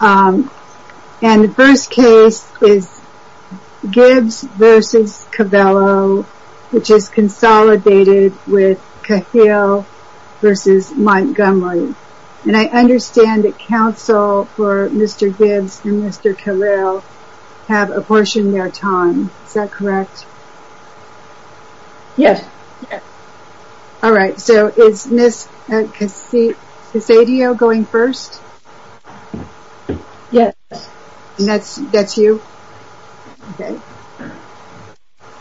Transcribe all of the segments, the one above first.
and the first case is Gibbs v. Covello which is consolidated with Cahill v. Montgomery and I understand that counsel for Mr. Gibbs and Mr. Cahill have apportioned their time, is that correct? Yes. Alright so is Ms. Casadio going first? Yes. That's you? Okay.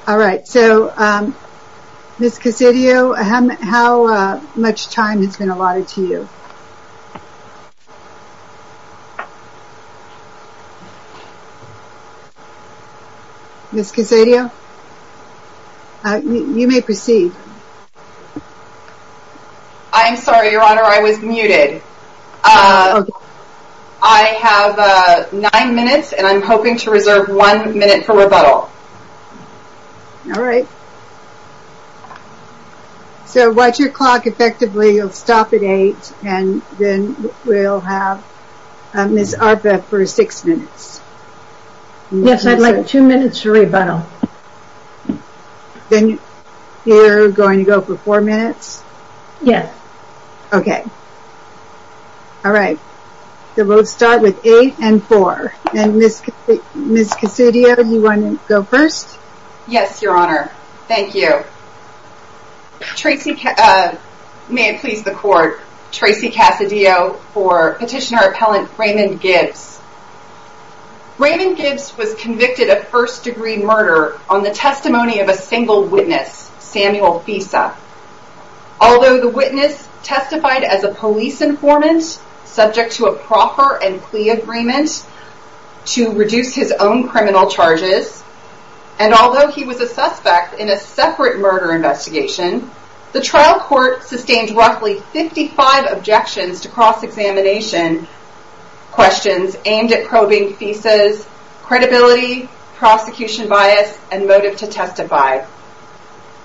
Alright so Ms. Casadio how much time has been allotted to you? Ms. Casadio you may proceed. I'm sorry so what's your clock effectively you'll stop at 8 and then we'll have Ms. Arpa for 6 minutes. Yes I'd like 2 minutes to rebuttal. Then you're going to go for 4 minutes? Yes. Okay. Alright we'll start with 8 and 4. Ms. Casadio do you want to go first? Yes your honor. Thank you. May it please the court, Tracy Casadio for Petitioner Appellant Raymond Gibbs. Raymond Gibbs was convicted of first degree murder on the testimony of a single witness, Samuel Fisa. Although the witness testified as a police informant, subject to a proffer and plea agreement to reduce his own criminal charges, and although he was a suspect in a separate murder investigation, the trial court sustained roughly 55 objections to cross examination questions aimed at probing Fisa's credibility, prosecution bias, and motive to testify.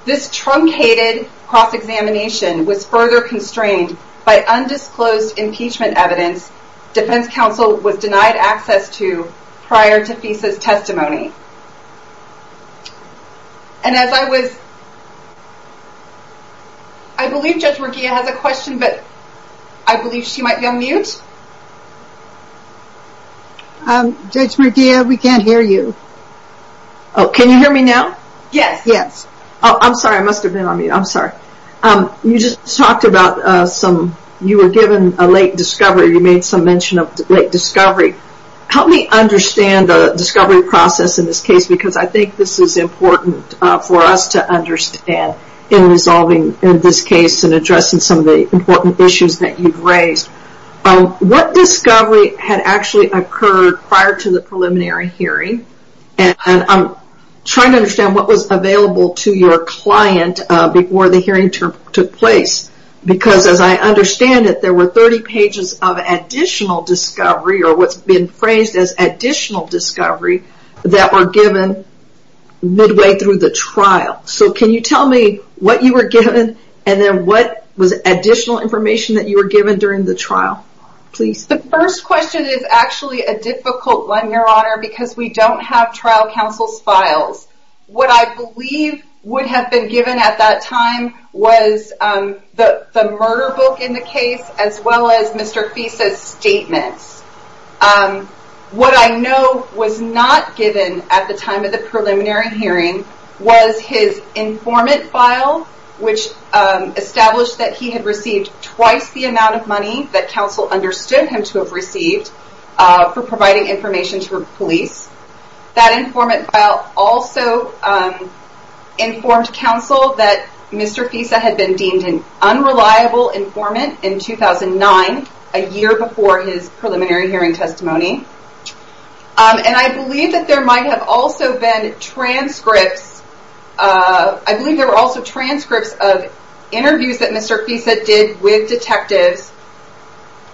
This truncated cross examination was further constrained by undisclosed impeachment evidence defense counsel was denied access to prior to Fisa's testimony. And as I was, I believe Judge Murguia has a question but I believe she might be on mute. Judge Murguia we can't hear you. Can you hear me now? Yes. I'm sorry I must have been on mute. I'm sorry. You just talked about some, you were given a late discovery, you made some mention of late discovery. Help me understand the discovery process in this case because I think this is important for us to understand in resolving this case and addressing some of the important issues that you've raised. What discovery had actually occurred prior to the preliminary hearing and I'm trying to understand what was available to your client before the hearing took place because as I understand it there were 30 pages of additional discovery or what's been phrased as additional discovery that were given midway through the trial. So can you tell me what you were given and then what was additional information that you were given during the trial? Please. The first question is actually a difficult one your honor because we don't have trial counsel's files. What I believe would have been given at that time was the murder book in the case as well as Mr. Fisa's statements. What I know was not given at the time of the preliminary hearing was his informant file which established that he had received twice the amount of money that counsel understood him to have received for providing information to the police. That informant file also informed counsel that Mr. Fisa had been deemed an unreliable informant in 2009, a year before his preliminary hearing testimony. And I believe that there might have also been transcripts of interviews that Mr. Fisa did with detectives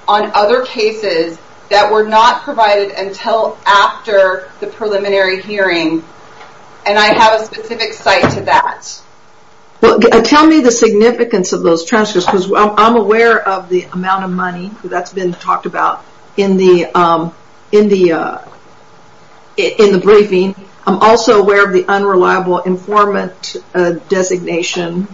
on other cases that were not provided until after the preliminary hearing and I have a specific site to that. Tell me the significance of those transcripts because I'm aware of the amount of money that's been talked about in the briefing. I'm also aware of the unreliable informant designation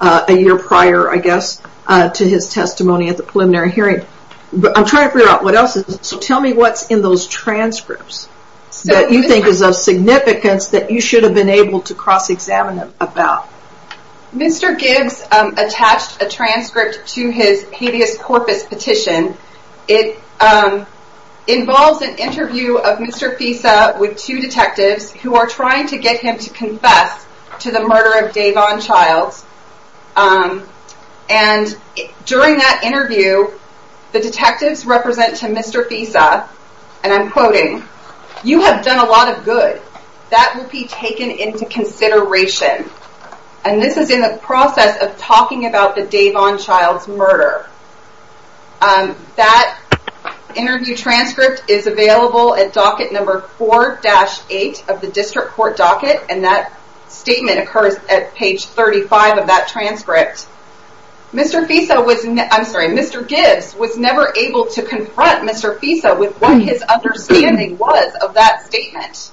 a year prior I guess to his testimony at the preliminary hearing. I'm trying to figure out what else is in those transcripts that you think is of significance that you should have been able to cross examine about. Mr. Gibbs attached a transcript to his habeas corpus petition. It involves an interview of Mr. Fisa with two detectives who are trying to get him to confess to the murder of Davon Childs. And during that interview the detectives represent to Mr. Fisa and I'm quoting, you have done a lot of good. That will be taken into consideration. And this is in the process of talking about the Davon Childs murder. That interview transcript is available at docket number 4-8 of the district court docket and that statement occurs at page 35 of that transcript. Mr. Gibbs was never able to confront Mr. Fisa with what his understanding was of that statement.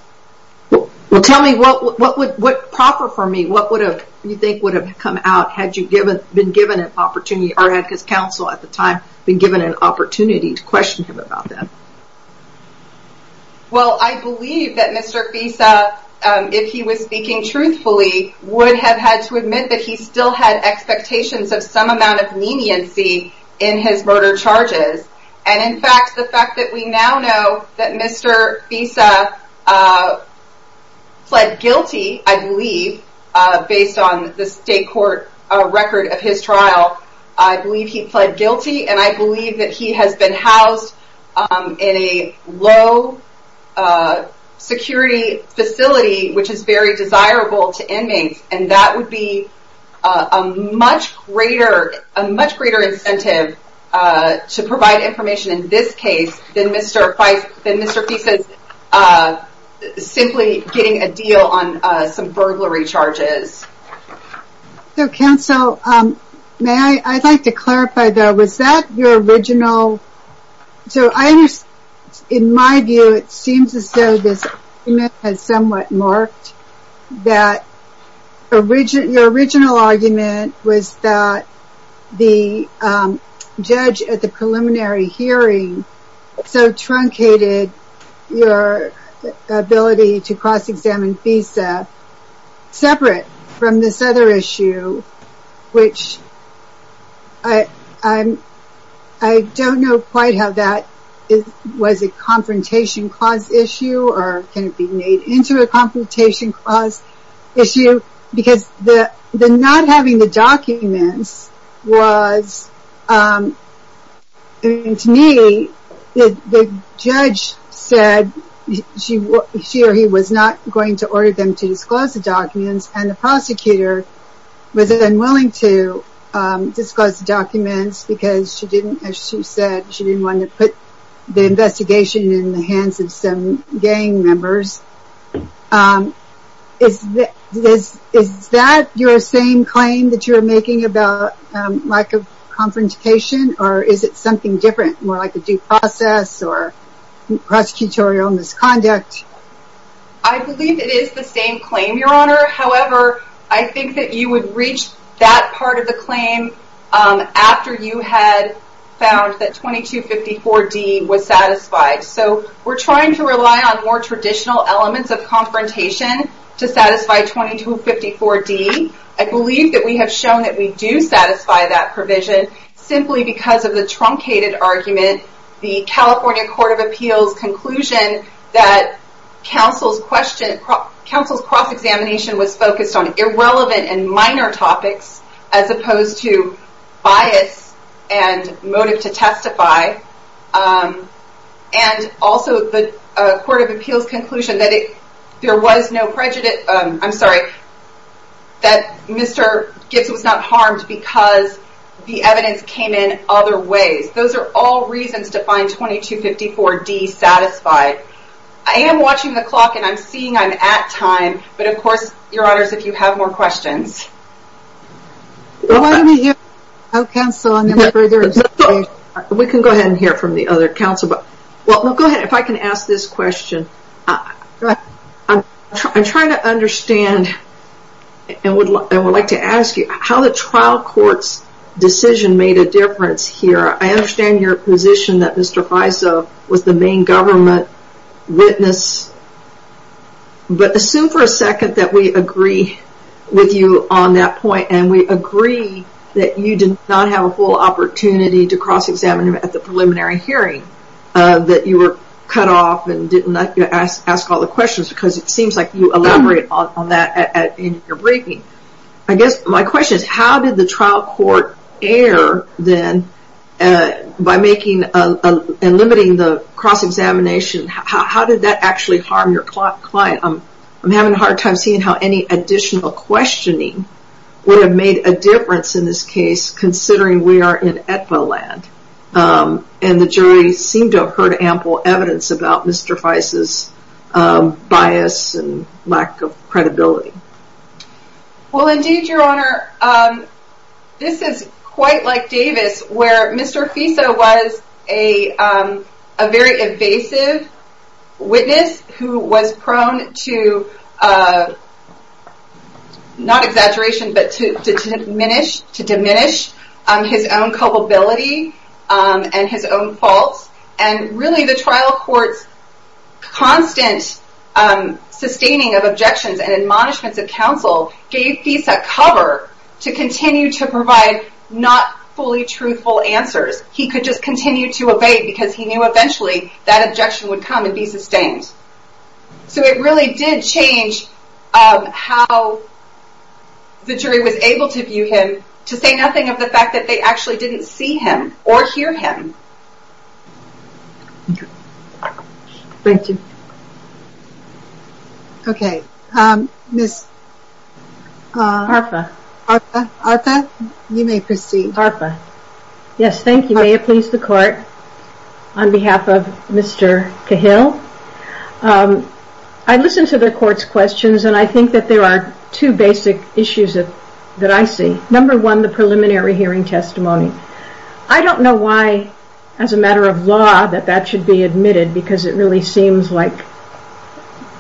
Well tell me what would, what proper for me, what would have you think would have come out had you been given an opportunity or had his counsel at the time been given an opportunity to question him about that? Well I believe that Mr. Fisa if he was speaking truthfully would have had to admit that he still had expectations of some amount of leniency in his murder charges. And in fact the fact that we now know that Mr. Fisa pled guilty I believe based on the state court record of his trial. I believe he pled guilty and I believe that he has been housed in a low security facility which is very desirable to inmates and that would be a much greater, a much greater incentive to provide information in this case than Mr. Fisa's simply getting a deal on some burglary charges. So counsel may I, I'd like to clarify though was that your original, so I was, in my view it seems as though this has somewhat marked that original, your original argument was that the judge at the preliminary hearing so truncated your ability to cross examine Fisa separate from this other issue which I, I'm, I don't know quite how that was a confrontation cause issue or can it be made into a confrontation cause issue because the, the not having the documents was to me the judge said she or he was not going to order them to disclose the documents and the prosecutor was unwilling to disclose the documents because she didn't, as she said she didn't want to put the investigation in the hands of some gang members. Is that your same claim that you're making about lack of confrontation or is it something different more like a due process or prosecutorial misconduct? I believe it is the same claim your honor however I think that you would reach that part of the claim after you had found that 2254 D was satisfied so we're trying to rely on more traditional elements of confrontation to satisfy 2254 D. I believe that we have shown that we do satisfy that provision simply because of the truncated argument, the California Court of Appeals conclusion that counsel's question, counsel's cross examination was focused on irrelevant and minor topics as I and also the Court of Appeals conclusion that it, there was no prejudice, I'm sorry that Mr. Gibbs was not harmed because the evidence came in other ways. Those are all reasons to find 2254 D satisfied. I am watching the clock and I'm seeing I'm at time but of course your honors if you have more questions. Why don't we hear from counsel and then further discussion. We can go ahead and hear from the other counsel but well go ahead if I can ask this question. I'm trying to understand and would like to ask you how the trial court's decision made a difference here. I understand your position that Mr. Faiso was the main government witness but assume for a second that we agree with you on that point and we need to cross examine him at the preliminary hearing that you were cut off and didn't ask all the questions because it seems like you elaborated on that in your briefing. I guess my question is how did the trial court err then by making and limiting the cross examination? How did that actually harm your client? I'm having a hard time seeing how any additional questioning would have made a difference in this case considering we are in ETVA land and the jury seemed to have heard ample evidence about Mr. Faiso's bias and lack of credibility. Well indeed your honor this is quite like Davis where Mr. Faiso was a very evasive witness who was prone to not exaggeration but to diminish his own culpability and his own faults and really the trial court's constant sustaining of objections and admonishments of counsel gave Faiso cover to continue to provide not fully truthful answers. He could just continue to evade because he knew eventually that objection would come and be sustained. So it really did change how the jury was able to view him to say nothing of the fact that they actually didn't see him or hear him. Thank you. Okay Ms. Arpa you may proceed. Ms. Arpa. Yes thank you. May it please the court on behalf of Mr. Cahill. I listen to the court's questions and I think that there are two basic issues that I see. Number one the preliminary hearing testimony. I don't know why as a matter of law that that should be admitted because it really seems like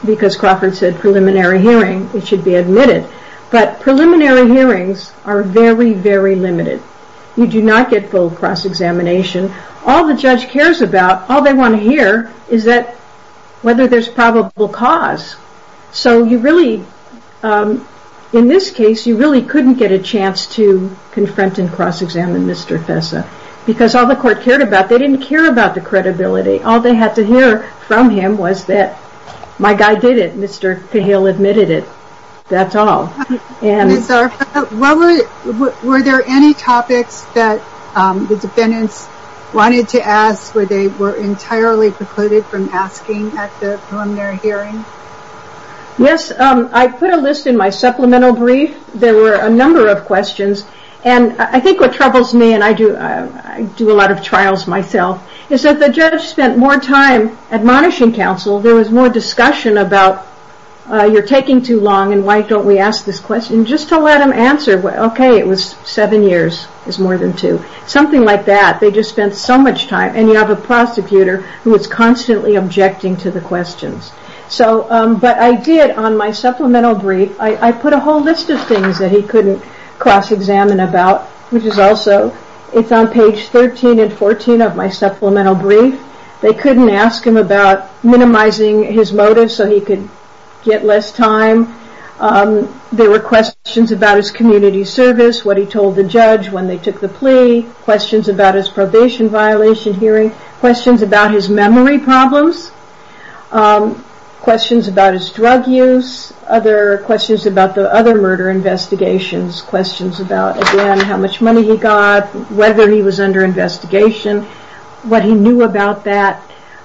because Crawford said preliminary hearing it should be admitted but preliminary hearings are very very limited. You do not get full cross examination. All the judge cares about all they want to hear is that whether there's probable cause. So you really in this case you really couldn't get a chance to confront and cross examine Mr. Faiso because all the court cared about they didn't care about the judge. That's all. Ms. Arpa were there any topics that the defendants wanted to ask where they were entirely precluded from asking at the preliminary hearing? Yes I put a list in my supplemental brief. There were a number of questions and I think what troubles me and I do a lot of trials myself is that the judge spent more time admonishing counsel. There was more discussion about you're taking too long and why don't we ask this question just to let them answer. Okay it was seven years is more than two. Something like that. They just spent so much time and you have a prosecutor who is constantly objecting to the questions. But I did on my supplemental brief I put a whole list of things that he couldn't cross examine about which is also it's on page 13 and 14 of my supplemental brief. They couldn't ask him about minimizing his motive so he could get less time. There were questions about his community service, what he told the judge when they took the plea, questions about his probation violation hearing, questions about his memory problems, questions about his drug use, questions about the other murder investigations, questions about how much money he got, whether he was under investigation, what he knew about that.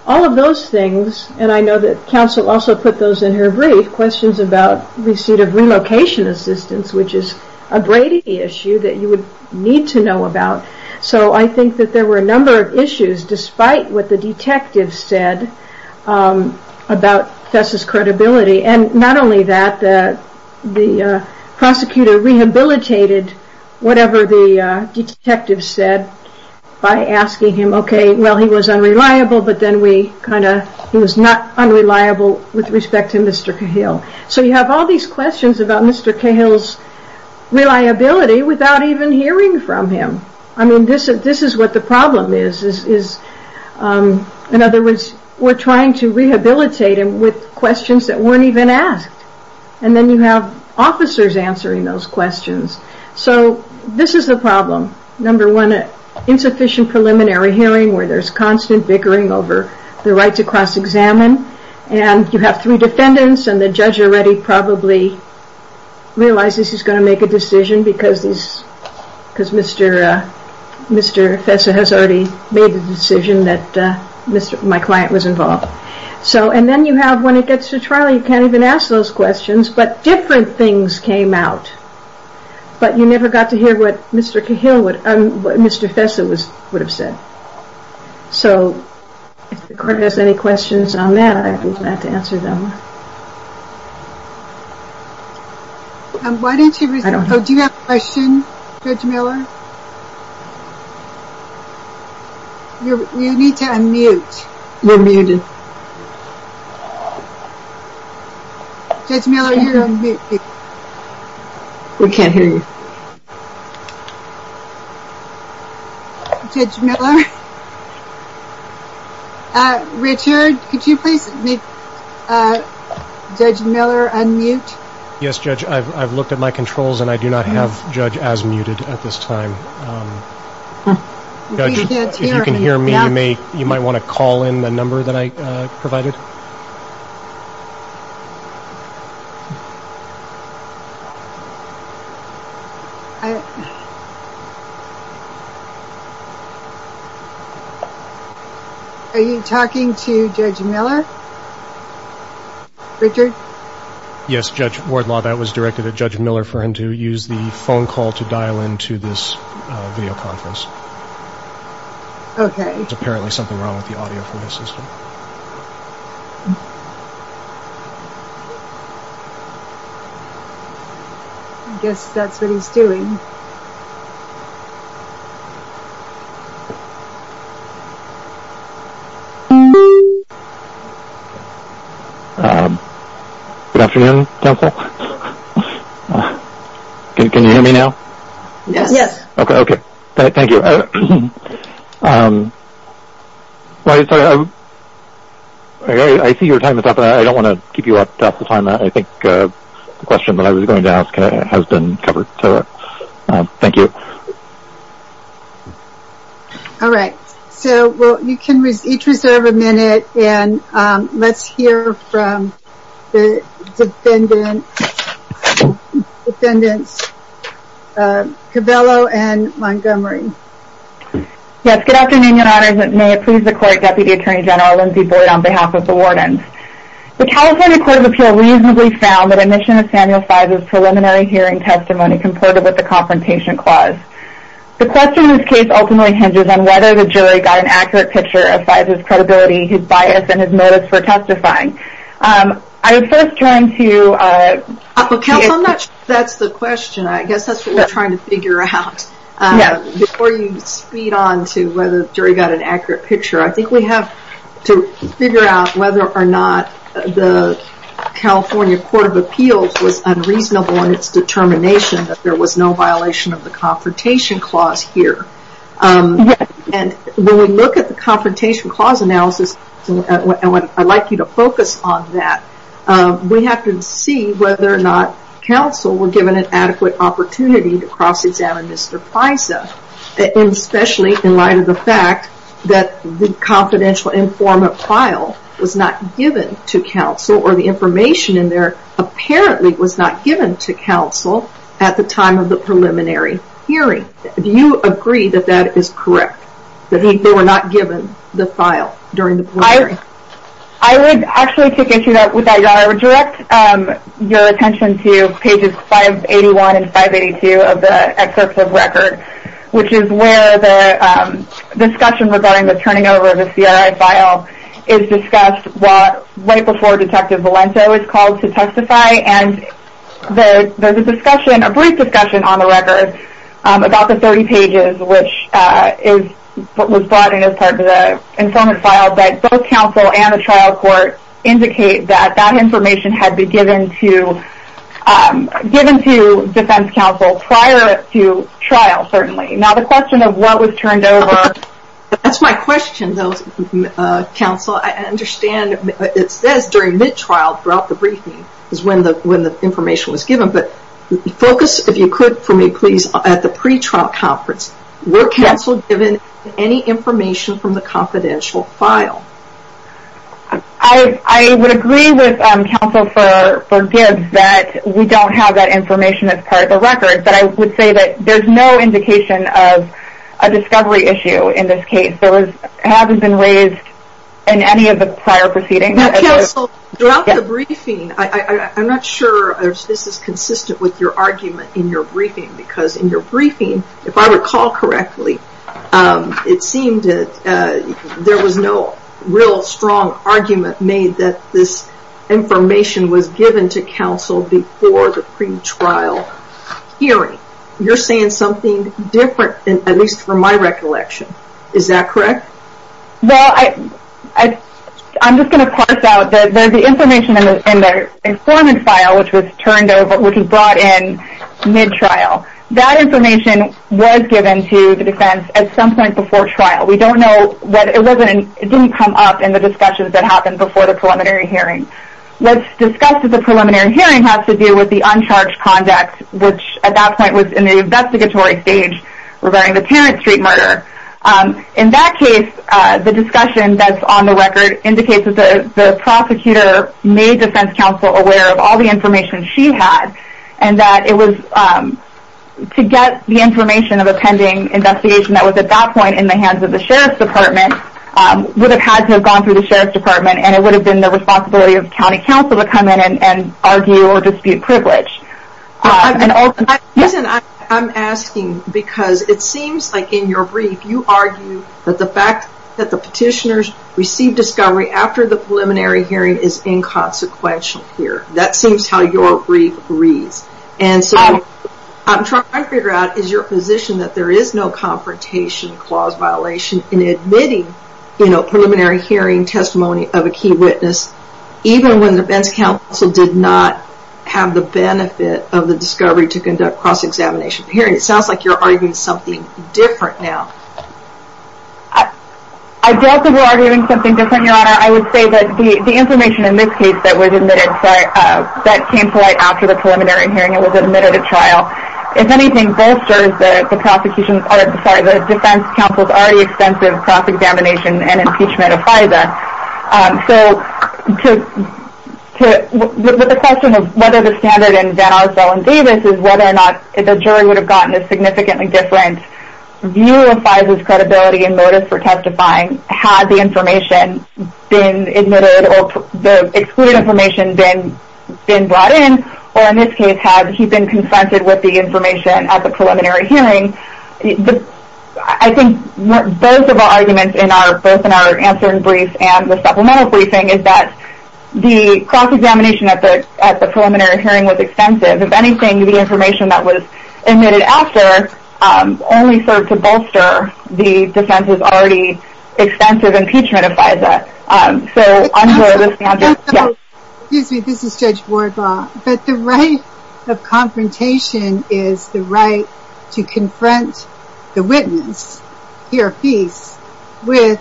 All of those things and I know that counsel also put those in her brief, questions about receipt of relocation assistance which is a Brady issue that you would need to know about. So I think that there were a number of issues despite what the detective said about Fess' credibility and not only that, the prosecutor rehabilitated whatever the detective said by asking him okay well he was unreliable but then he was not unreliable with respect to Mr. Cahill. So you have all these questions about Mr. Cahill's reliability without even hearing from him. I mean this is what the problem is. In other words we are trying to rehabilitate him with questions that weren't even asked and then you have officers answering those questions. So this is the problem. Number one, insufficient preliminary hearing where there is constant bickering over the right to cross examine and you have three defendants and the judge already probably realizes he is going to make a decision because Mr. Fess has already made the decision that my client was involved. So and then you have when it gets to trial you can't even ask those questions but different things came out but you never got to hear what Mr. Fess would have said. So if the court has any questions on that I would be glad to answer them. Do you have a question Judge Miller? You need to unmute. We're muted. Judge Miller you're unmuted. We can't hear you. Judge Miller. Richard could you please make a comment on the question. Judge Miller unmute. Yes Judge I've looked at my controls and I do not have Judge as muted at this time. We can't hear you. Judge if you can hear me you might want to call in the number that I provided. Are you talking to Judge Miller? Richard? Yes Judge Wardlaw that was directed at Judge Miller for him to use the phone call to dial in to this video conference. Okay. There's apparently something wrong with the audio for this system. I guess that's what he's doing. Good afternoon counsel. Can you hear me now? Yes. Okay. Thank you. I see your time is up. I don't want to keep you up to time. I think the question that I was going to ask has been covered. Thank you. All right. You can each reserve a minute and let's hear from the defendants Cabello and Montgomery. Yes. Good afternoon your honors. May it please the court Deputy Attorney General Lindsay Boyd on behalf of the wardens. The California Court of Appeal reasonably found that admission of Samuel Fizer's preliminary hearing testimony comported with the confrontation clause. The question in this case ultimately hinges on whether the jury got an accurate picture of Fizer's credibility, his bias, and his motives for testifying. I would first turn to... Counsel I'm not sure that's the question. I guess that's what we're trying to figure out. Before you speed on to whether the jury got an accurate picture, I think we have to figure out whether or not the California Court of Appeals was unreasonable in its determination that there was no violation of the confrontation clause here. When we look at the confrontation clause analysis, I'd like you to focus on that. We have to see whether or not counsel were given an adequate opportunity to cross examine Mr. Fizer, especially in light of the fact that the confidential informant file was not at the time of the preliminary hearing. Do you agree that that is correct? That they were not given the file during the preliminary hearing? I would actually take issue with that, Your Honor. I would direct your attention to pages 581 and 582 of the excerpt of record, which is where the discussion regarding the turning over of the CRI file is discussed right before Detective Valento is called to testify. There's a brief discussion on the record about the 30 pages, which was brought in as part of the informant file, but both counsel and the trial court indicate that that information had been given to defense counsel prior to trial, certainly. Now, the question of what was turned over... That's my question, though, counsel. I understand it says during mid-trial, throughout the briefing, is when the information was given, but focus, if you could, for me, please, at the pre-trial conference. Were counsel given any information from the confidential file? I would agree with counsel for Gibbs that we don't have that information as part of the record, but I would say that there's no indication of a discovery issue in this case. It hasn't been raised in any of the prior proceedings. Counsel, throughout the briefing, I'm not sure if this is consistent with your argument in your briefing, because in your briefing, if I recall correctly, it seemed that there was no real strong argument made that this information was given to counsel before the pre-trial hearing. You're saying something different, at least from my recollection. Is that correct? Well, I'm just going to parse out that the information in the informant file, which was turned over, which was brought in mid-trial, that information was given to the defense at some point before trial. We don't know... It didn't come up in the discussions that happened before the preliminary hearing. What's discussed at the preliminary hearing has to do with the uncharged conduct, which at that point was in the investigatory stage regarding the Tarrant Street murder. In that case, the discussion that's on the record indicates that the prosecutor made defense counsel aware of all the information she had, and that it was to get the information of a pending investigation that was at that point in the hands of the sheriff's department would have had to have gone through the sheriff's department, and it would have been the responsibility of county counsel to come in and argue or dispute privilege. Listen, I'm asking because it seems like in your brief you argue that the fact that the petitioners received discovery after the preliminary hearing is inconsequential here. That seems how your brief reads. And so what I'm trying to figure out is your position that there is no confrontation clause violation in admitting preliminary hearing testimony of a key witness, even when the defense counsel did not have the benefit of the discovery to conduct cross-examination. It sounds like you're arguing something different now. I don't think we're arguing something different, Your Honor. I would say that the information in this case that was admitted, that came to light after the preliminary hearing, it was admitted at trial. If anything bolsters the defense counsel's already extensive cross-examination and impeachment of FISA. So the question of whether the standard in Van Arsdell and Davis is whether or not the jury would have gotten a significantly different view of FISA's credibility and motive for testifying had the information been admitted or the excluded information been brought in, or in this case, had he been confronted with the information at the preliminary hearing. I think both of our arguments, both in our answering brief and the supplemental briefing, is that the cross-examination at the preliminary hearing was extensive. If anything, the information that was admitted after only served to bolster the defense's already extensive impeachment of FISA. Excuse me, this is Judge Wardlaw. But the right of confrontation is the right to confront the witness, he or she, with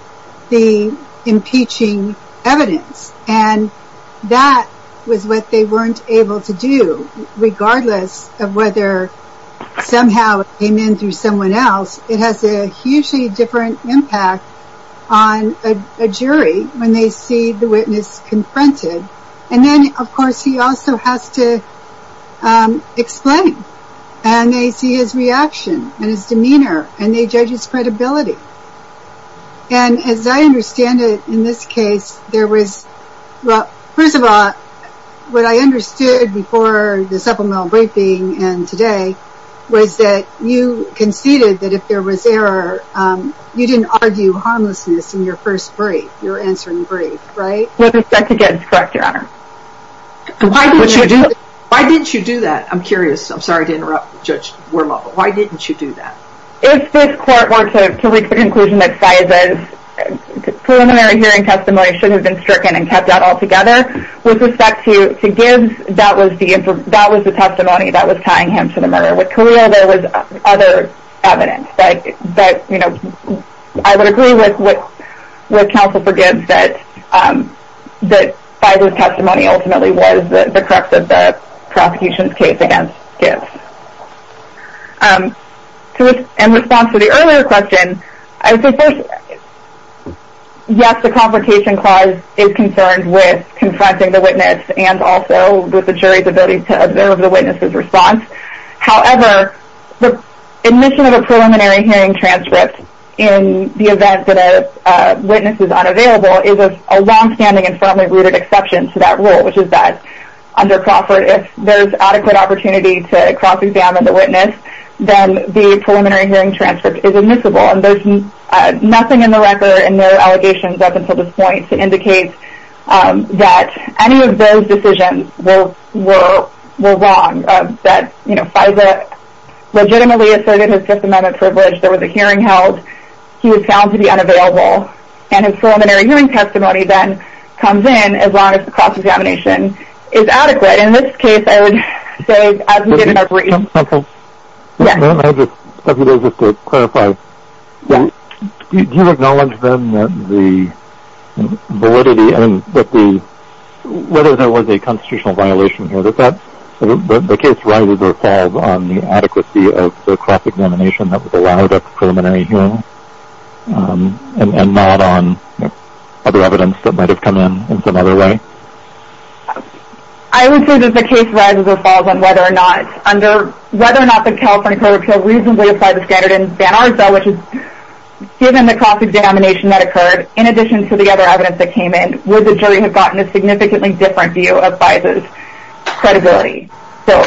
the impeaching evidence. And that was what they weren't able to do, regardless of whether somehow it came in through someone else. It has a hugely different impact on a jury when they see the witness confronted. And then, of course, he also has to explain. And they see his reaction and his demeanor, and they judge his credibility. And as I understand it, in this case, there was, well, first of all, what I understood before the supplemental briefing and today was that you conceded that if there was error, you didn't argue harmlessness in your first brief, your answering brief, right? With respect to GEDS, correct, Your Honor. Why didn't you do that? I'm curious. I'm sorry to interrupt Judge Wardlaw, but why didn't you do that? If this court were to reach the conclusion that FISA's preliminary hearing testimony should have been stricken and kept out altogether, with respect to GEDS, that was the testimony that was tying him to the murder. With Khalil, there was other evidence. But I would agree with Counsel for GEDS that FISA's testimony ultimately was the crux of the prosecution's case against GEDS. In response to the earlier question, yes, the Confrontation Clause is concerned with confronting the witness and also with the jury's ability to observe the witness's response. However, the admission of a preliminary hearing transcript in the event that a witness is unavailable is a longstanding and firmly rooted exception to that rule, which is that under Crawford, if there's adequate opportunity to cross-examine the witness, then the preliminary hearing transcript is admissible. And there's nothing in the record in their allegations up until this point to indicate that any of those decisions were wrong, that FISA legitimately asserted his Fifth Amendment privilege, there was a hearing held, he was found to be unavailable, and his preliminary hearing testimony then comes in as long as the cross-examination is adequate. In this case, I would say as we did in our brief. Counsel? Yes. I have a few things just to clarify. Do you acknowledge then that the validity and that the, whether there was a constitutional violation here, that the case rises or falls on the adequacy of the cross-examination that was allowed at the preliminary hearing and not on other evidence that might have come in in some other way? I would say that the case rises or falls on whether or not, under, whether or not the California Code of Appeals reasonably applied the scattered and banal result, which is given the cross-examination that occurred, in addition to the other evidence that came in, would the jury have gotten a significantly different view of FISA's credibility? So,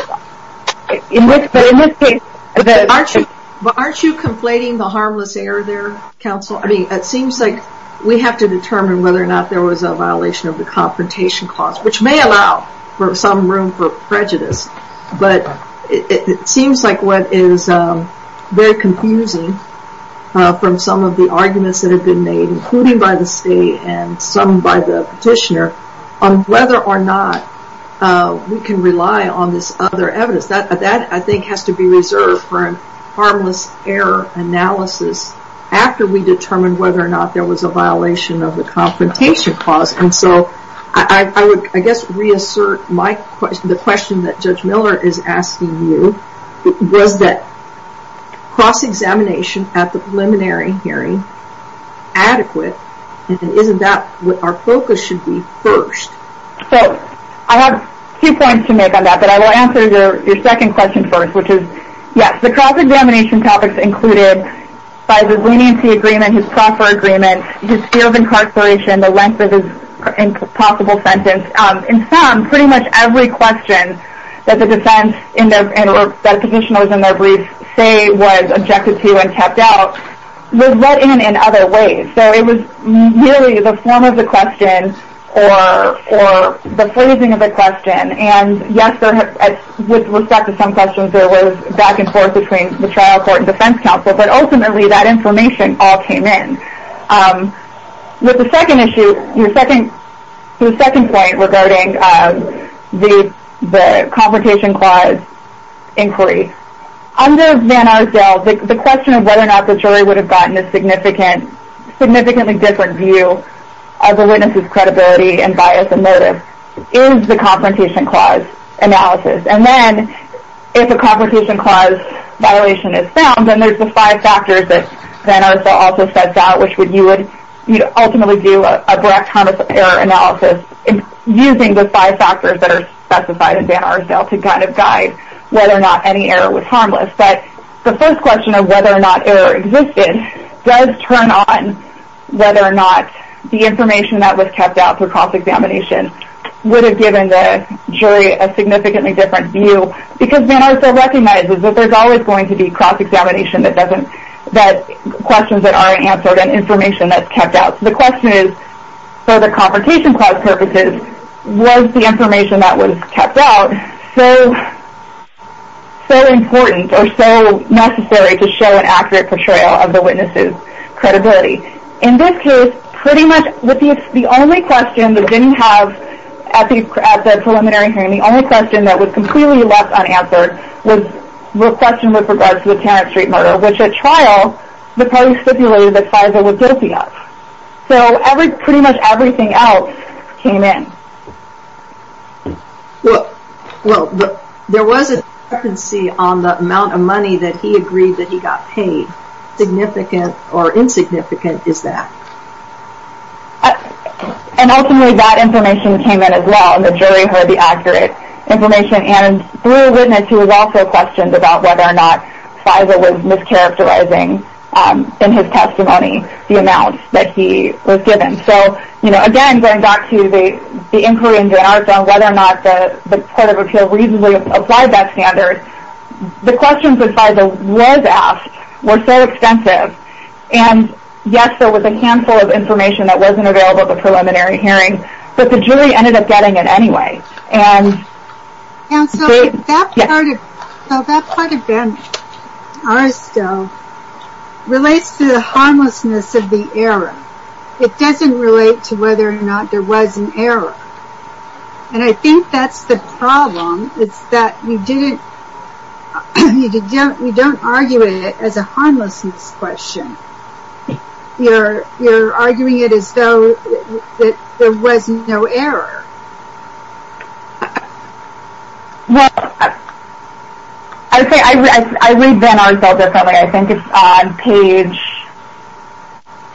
in this case, the... But aren't you conflating the harmless error there, Counsel? I mean, it seems like we have to determine whether or not there was a violation of the confrontation clause, which may allow for some room for prejudice. But it seems like what is very confusing from some of the arguments that have been made, including by the state and some by the petitioner, on whether or not we can rely on this other evidence. That, I think, has to be reserved for a harmless error analysis after we determine whether or not there was a violation of the confrontation clause. And so, I would, I guess, reassert the question that Judge Miller is asking you. Was that cross-examination at the preliminary hearing adequate? And isn't that what our focus should be first? So, I have two points to make on that. But I will answer your second question first, which is, yes, the cross-examination topics included by the leniency agreement, his proffer agreement, his fear of incarceration, the length of his possible sentence. In sum, pretty much every question that the defense, or that petitioner was in their brief, say was objected to and kept out was let in in other ways. So, it was merely the form of the question or the phrasing of the question. And, yes, with respect to some questions, there was back and forth between the trial court and defense counsel. But ultimately, that information all came in. With the second issue, your second point regarding the confrontation clause inquiry, under Van Arsdale, the question of whether or not the jury would have gotten a significantly different view of the witness' credibility and bias and motive is the confrontation clause analysis. And then, if a confrontation clause violation is found, then there's the five factors that Van Arsdale also sets out, which would, you would ultimately do a Brecht-Thomas error analysis using the five factors that are specified in Van Arsdale to kind of guide whether or not any error was harmless. But the first question of whether or not error existed does turn on whether or not the information that was kept out for cross-examination would have given the jury a significantly different view, because Van Arsdale recognizes that there's always going to be cross-examination that doesn't, that questions that aren't answered and information that's kept out. The question is, for the confrontation clause purposes, was the information that was kept out so important or so necessary to show an accurate portrayal of the witness' credibility? In this case, pretty much the only question that didn't have, at the preliminary hearing, the only question that was completely left unanswered was the question with regards to the Tarrant Street murder, which, at trial, the parties stipulated that FISA was guilty of. So pretty much everything else came in. Well, there was a discrepancy on the amount of money that he agreed that he got paid. Significant or insignificant is that. And ultimately, that information came in as well, and the jury heard the accurate information, and threw a witness who was also questioned about whether or not FISA was mischaracterizing, in his testimony, the amount that he was given. So, again, going back to the inquiry in Van Arsdale, whether or not the Court of Appeal reasonably applied that standard, the questions that FISA was asked were so extensive, and yes, there was a handful of information that wasn't available at the preliminary hearing, but the jury ended up getting it anyway. And so that part of Van Arsdale relates to the harmlessness of the error. It doesn't relate to whether or not there was an error. And I think that's the problem. It's that you don't argue it as a harmlessness question. You're arguing it as though there was no error. Well, I would say I read Van Arsdale differently. I think it's on page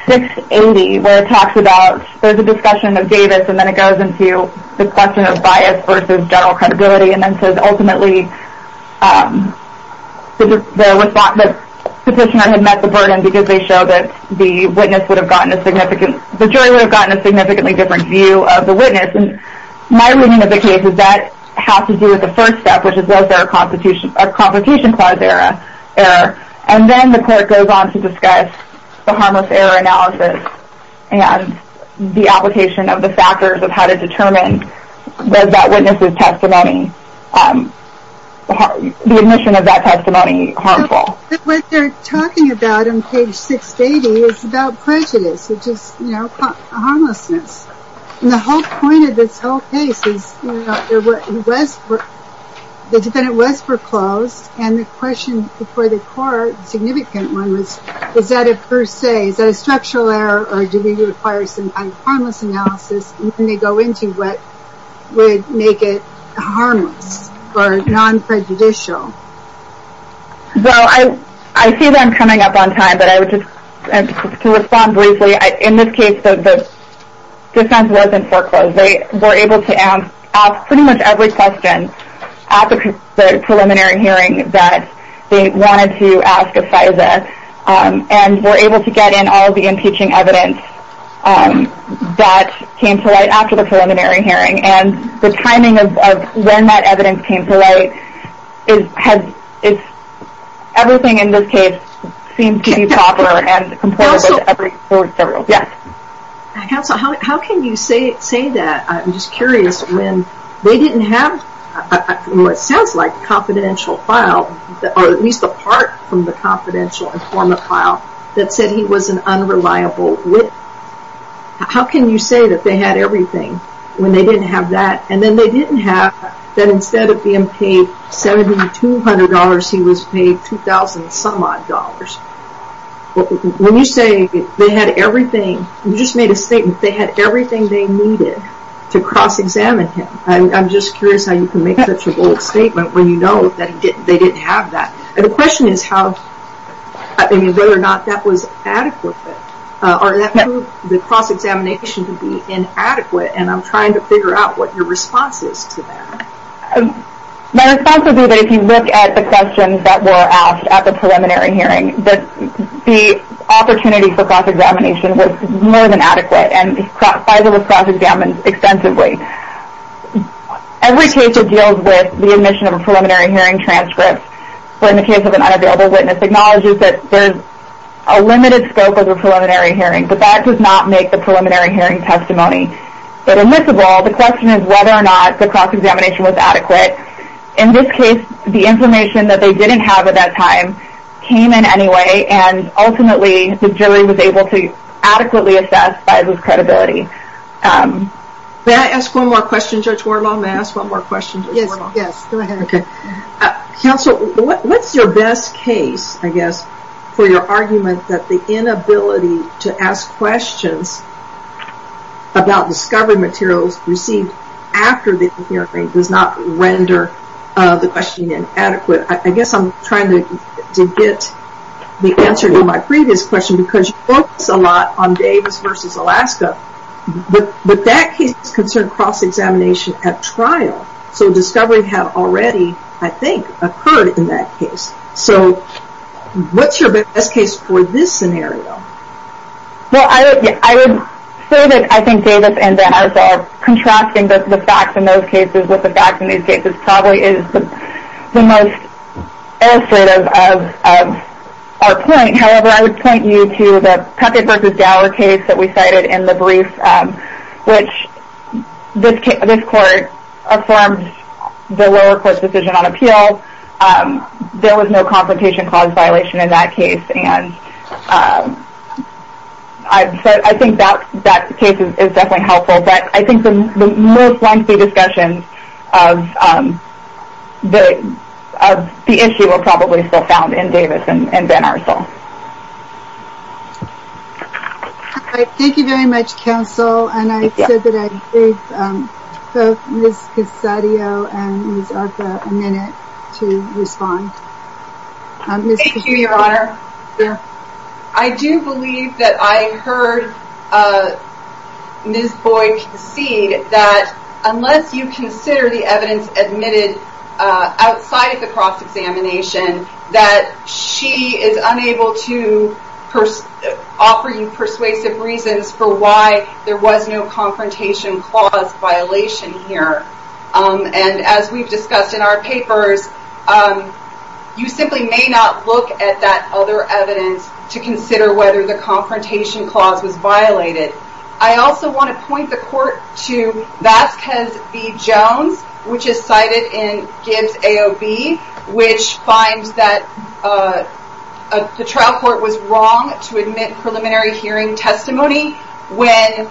680, where it talks about, there's a discussion of Davis, and then it goes into the question of bias versus general credibility, and then says, ultimately, the petitioner had met the burden because they showed that the jury would have gotten a significantly different view of the witness. And my reading of the case is that has to do with the first step, which is was there a complication clause error. And then the court goes on to discuss the harmless error analysis and the application of the factors of how to determine whether that witness' testimony, the admission of that testimony, harmful. But what they're talking about on page 680 is about prejudice, which is, you know, harmlessness. And the whole point of this whole case is the defendant was foreclosed, and the question before the court, a significant one, was, is that a per se, is that a structural error, or do we require some kind of harmless analysis? And then they go into what would make it harmless or non-prejudicial. Well, I see that I'm coming up on time, but I would just respond briefly. In this case, the defense wasn't foreclosed. They were able to ask pretty much every question at the preliminary hearing that they wanted to ask of FISA. And were able to get in all the impeaching evidence that came to light after the preliminary hearing. And the timing of when that evidence came to light, everything in this case seems to be proper and compliant with every court's rules. Counsel, how can you say that? I'm just curious, when they didn't have what sounds like a confidential file, or at least apart from the confidential informant file, that said he was an unreliable witness. How can you say that they had everything when they didn't have that? And then they didn't have that instead of being paid $7,200, he was paid $2,000 some odd. When you say they had everything, you just made a statement, they had everything they needed to cross-examine him. I'm just curious how you can make such a bold statement when you know that they didn't have that. The question is whether or not that was adequate. Or that proved the cross-examination to be inadequate, and I'm trying to figure out what your response is to that. My response would be that if you look at the questions that were asked at the preliminary hearing, the opportunity for cross-examination was more than adequate, and FISA was cross-examined extensively. Every case that deals with the admission of a preliminary hearing transcript, or in the case of an unavailable witness, acknowledges that there's a limited scope of the preliminary hearing, but that does not make the preliminary hearing testimony. But in this role, the question is whether or not the cross-examination was adequate. In this case, the information that they didn't have at that time came in anyway, and ultimately the jury was able to adequately assess FISA's credibility. May I ask one more question, Judge Wardlaw? Yes, go ahead. Counsel, what's your best case, I guess, for your argument that the inability to ask questions about discovery materials received after the hearing does not render the questioning inadequate? I guess I'm trying to get the answer to my previous question, because you focus a lot on Davis v. Alaska, but that case is concerned with cross-examination at trial. So discovery had already, I think, occurred in that case. So what's your best case for this scenario? Well, I would say that I think Davis and Danza are contrasting the facts in those cases with the facts in these cases probably is the most illustrative of our point. However, I would point you to the Peckett v. Dower case that we cited in the brief, which this court affirmed the lower court's decision on appeal. There was no confrontation clause violation in that case, and I think that case is definitely helpful. But I think the most lengthy discussions of the issue are probably still found in Davis and Danarsa. All right, thank you very much, Counsel. And I said that I gave both Ms. Casadio and Ms. Arthur a minute to respond. Thank you, Your Honor. I do believe that I heard Ms. Boyd concede that unless you consider the evidence admitted outside of the cross-examination, that she is unable to offer you persuasive reasons for why there was no confrontation clause violation here. And as we've discussed in our papers, you simply may not look at that other evidence to consider whether the confrontation clause was violated. I also want to point the court to Vasquez v. Jones, which is cited in Gibbs AOB, which finds that the trial court was wrong to admit preliminary hearing testimony when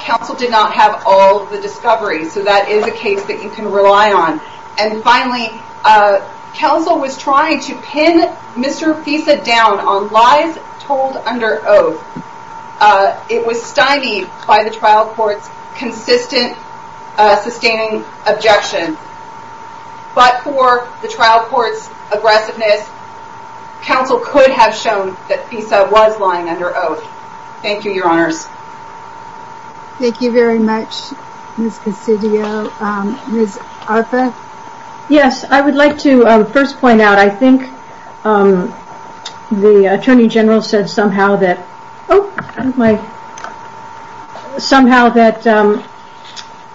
counsel did not have all of the discoveries. So that is a case that you can rely on. And finally, counsel was trying to pin Mr. FISA down on lies told under oath. It was stymied by the trial court's consistent, sustaining objection. But for the trial court's aggressiveness, counsel could have shown that FISA was lying under oath. Thank you, Your Honors. Thank you very much, Ms. Cassidio. Ms. Arthur? Yes, I would like to first point out, I think the Attorney General said somehow that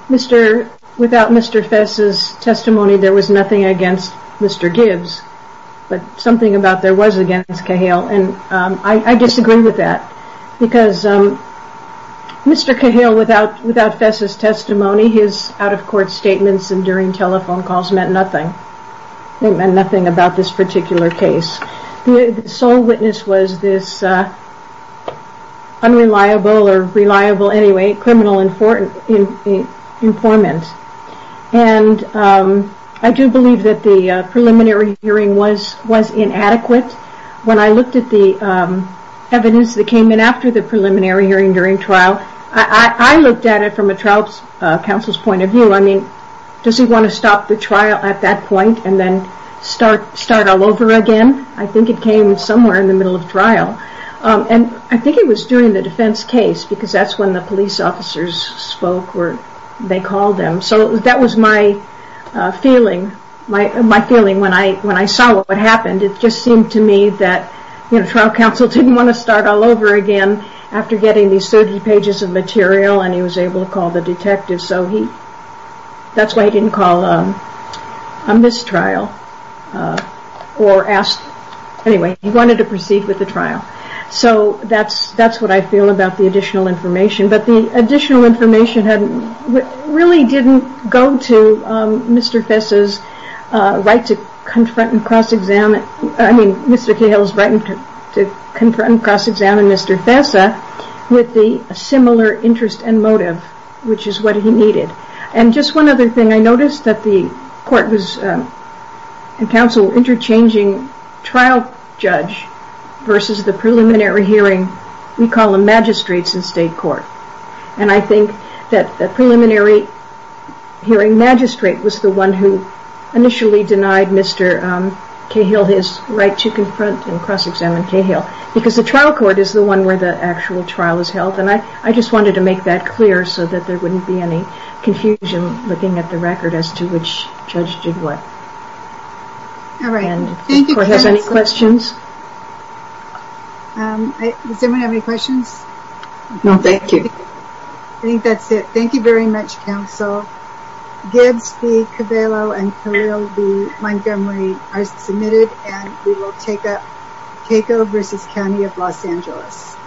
without Mr. FISA's testimony, there was nothing against Mr. Gibbs. But something about there was against Cahill, and I disagree with that. Because Mr. Cahill, without FISA's testimony, his out-of-court statements and during telephone calls meant nothing. They meant nothing about this particular case. The sole witness was this unreliable, or reliable anyway, criminal informant. And I do believe that the preliminary hearing was inadequate. When I looked at the evidence that came in after the preliminary hearing during trial, I looked at it from a trial counsel's point of view. I mean, does he want to stop the trial at that point and then start all over again? I think it came somewhere in the middle of trial. And I think it was during the defense case, because that's when the police officers spoke, or they called them. So that was my feeling when I saw what happened. It just seemed to me that trial counsel didn't want to start all over again after getting these 30 pages of material and he was able to call the detective. So that's why he didn't call a mistrial. Anyway, he wanted to proceed with the trial. So that's what I feel about the additional information. But the additional information really didn't go to Mr. Kahle's right to confront and cross-examine Mr. Fessa with the similar interest and motive, which is what he needed. And just one other thing, I noticed that the court was, in counsel, interchanging trial judge versus the preliminary hearing. We call them magistrates in state court. And I think that the preliminary hearing magistrate was the one who initially denied Mr. Kahle his right to confront and cross-examine Kahle, because the trial court is the one where the actual trial is held. And I just wanted to make that clear so that there wouldn't be any confusion looking at the record as to which judge did what. All right. Thank you, counsel. Does the court have any questions? Does anyone have any questions? No, thank you. I think that's it. Thank you very much, counsel. Gibbs v. Cabello and Carrillo v. Montgomery are submitted. And we will take up Keiko v. County of Los Angeles.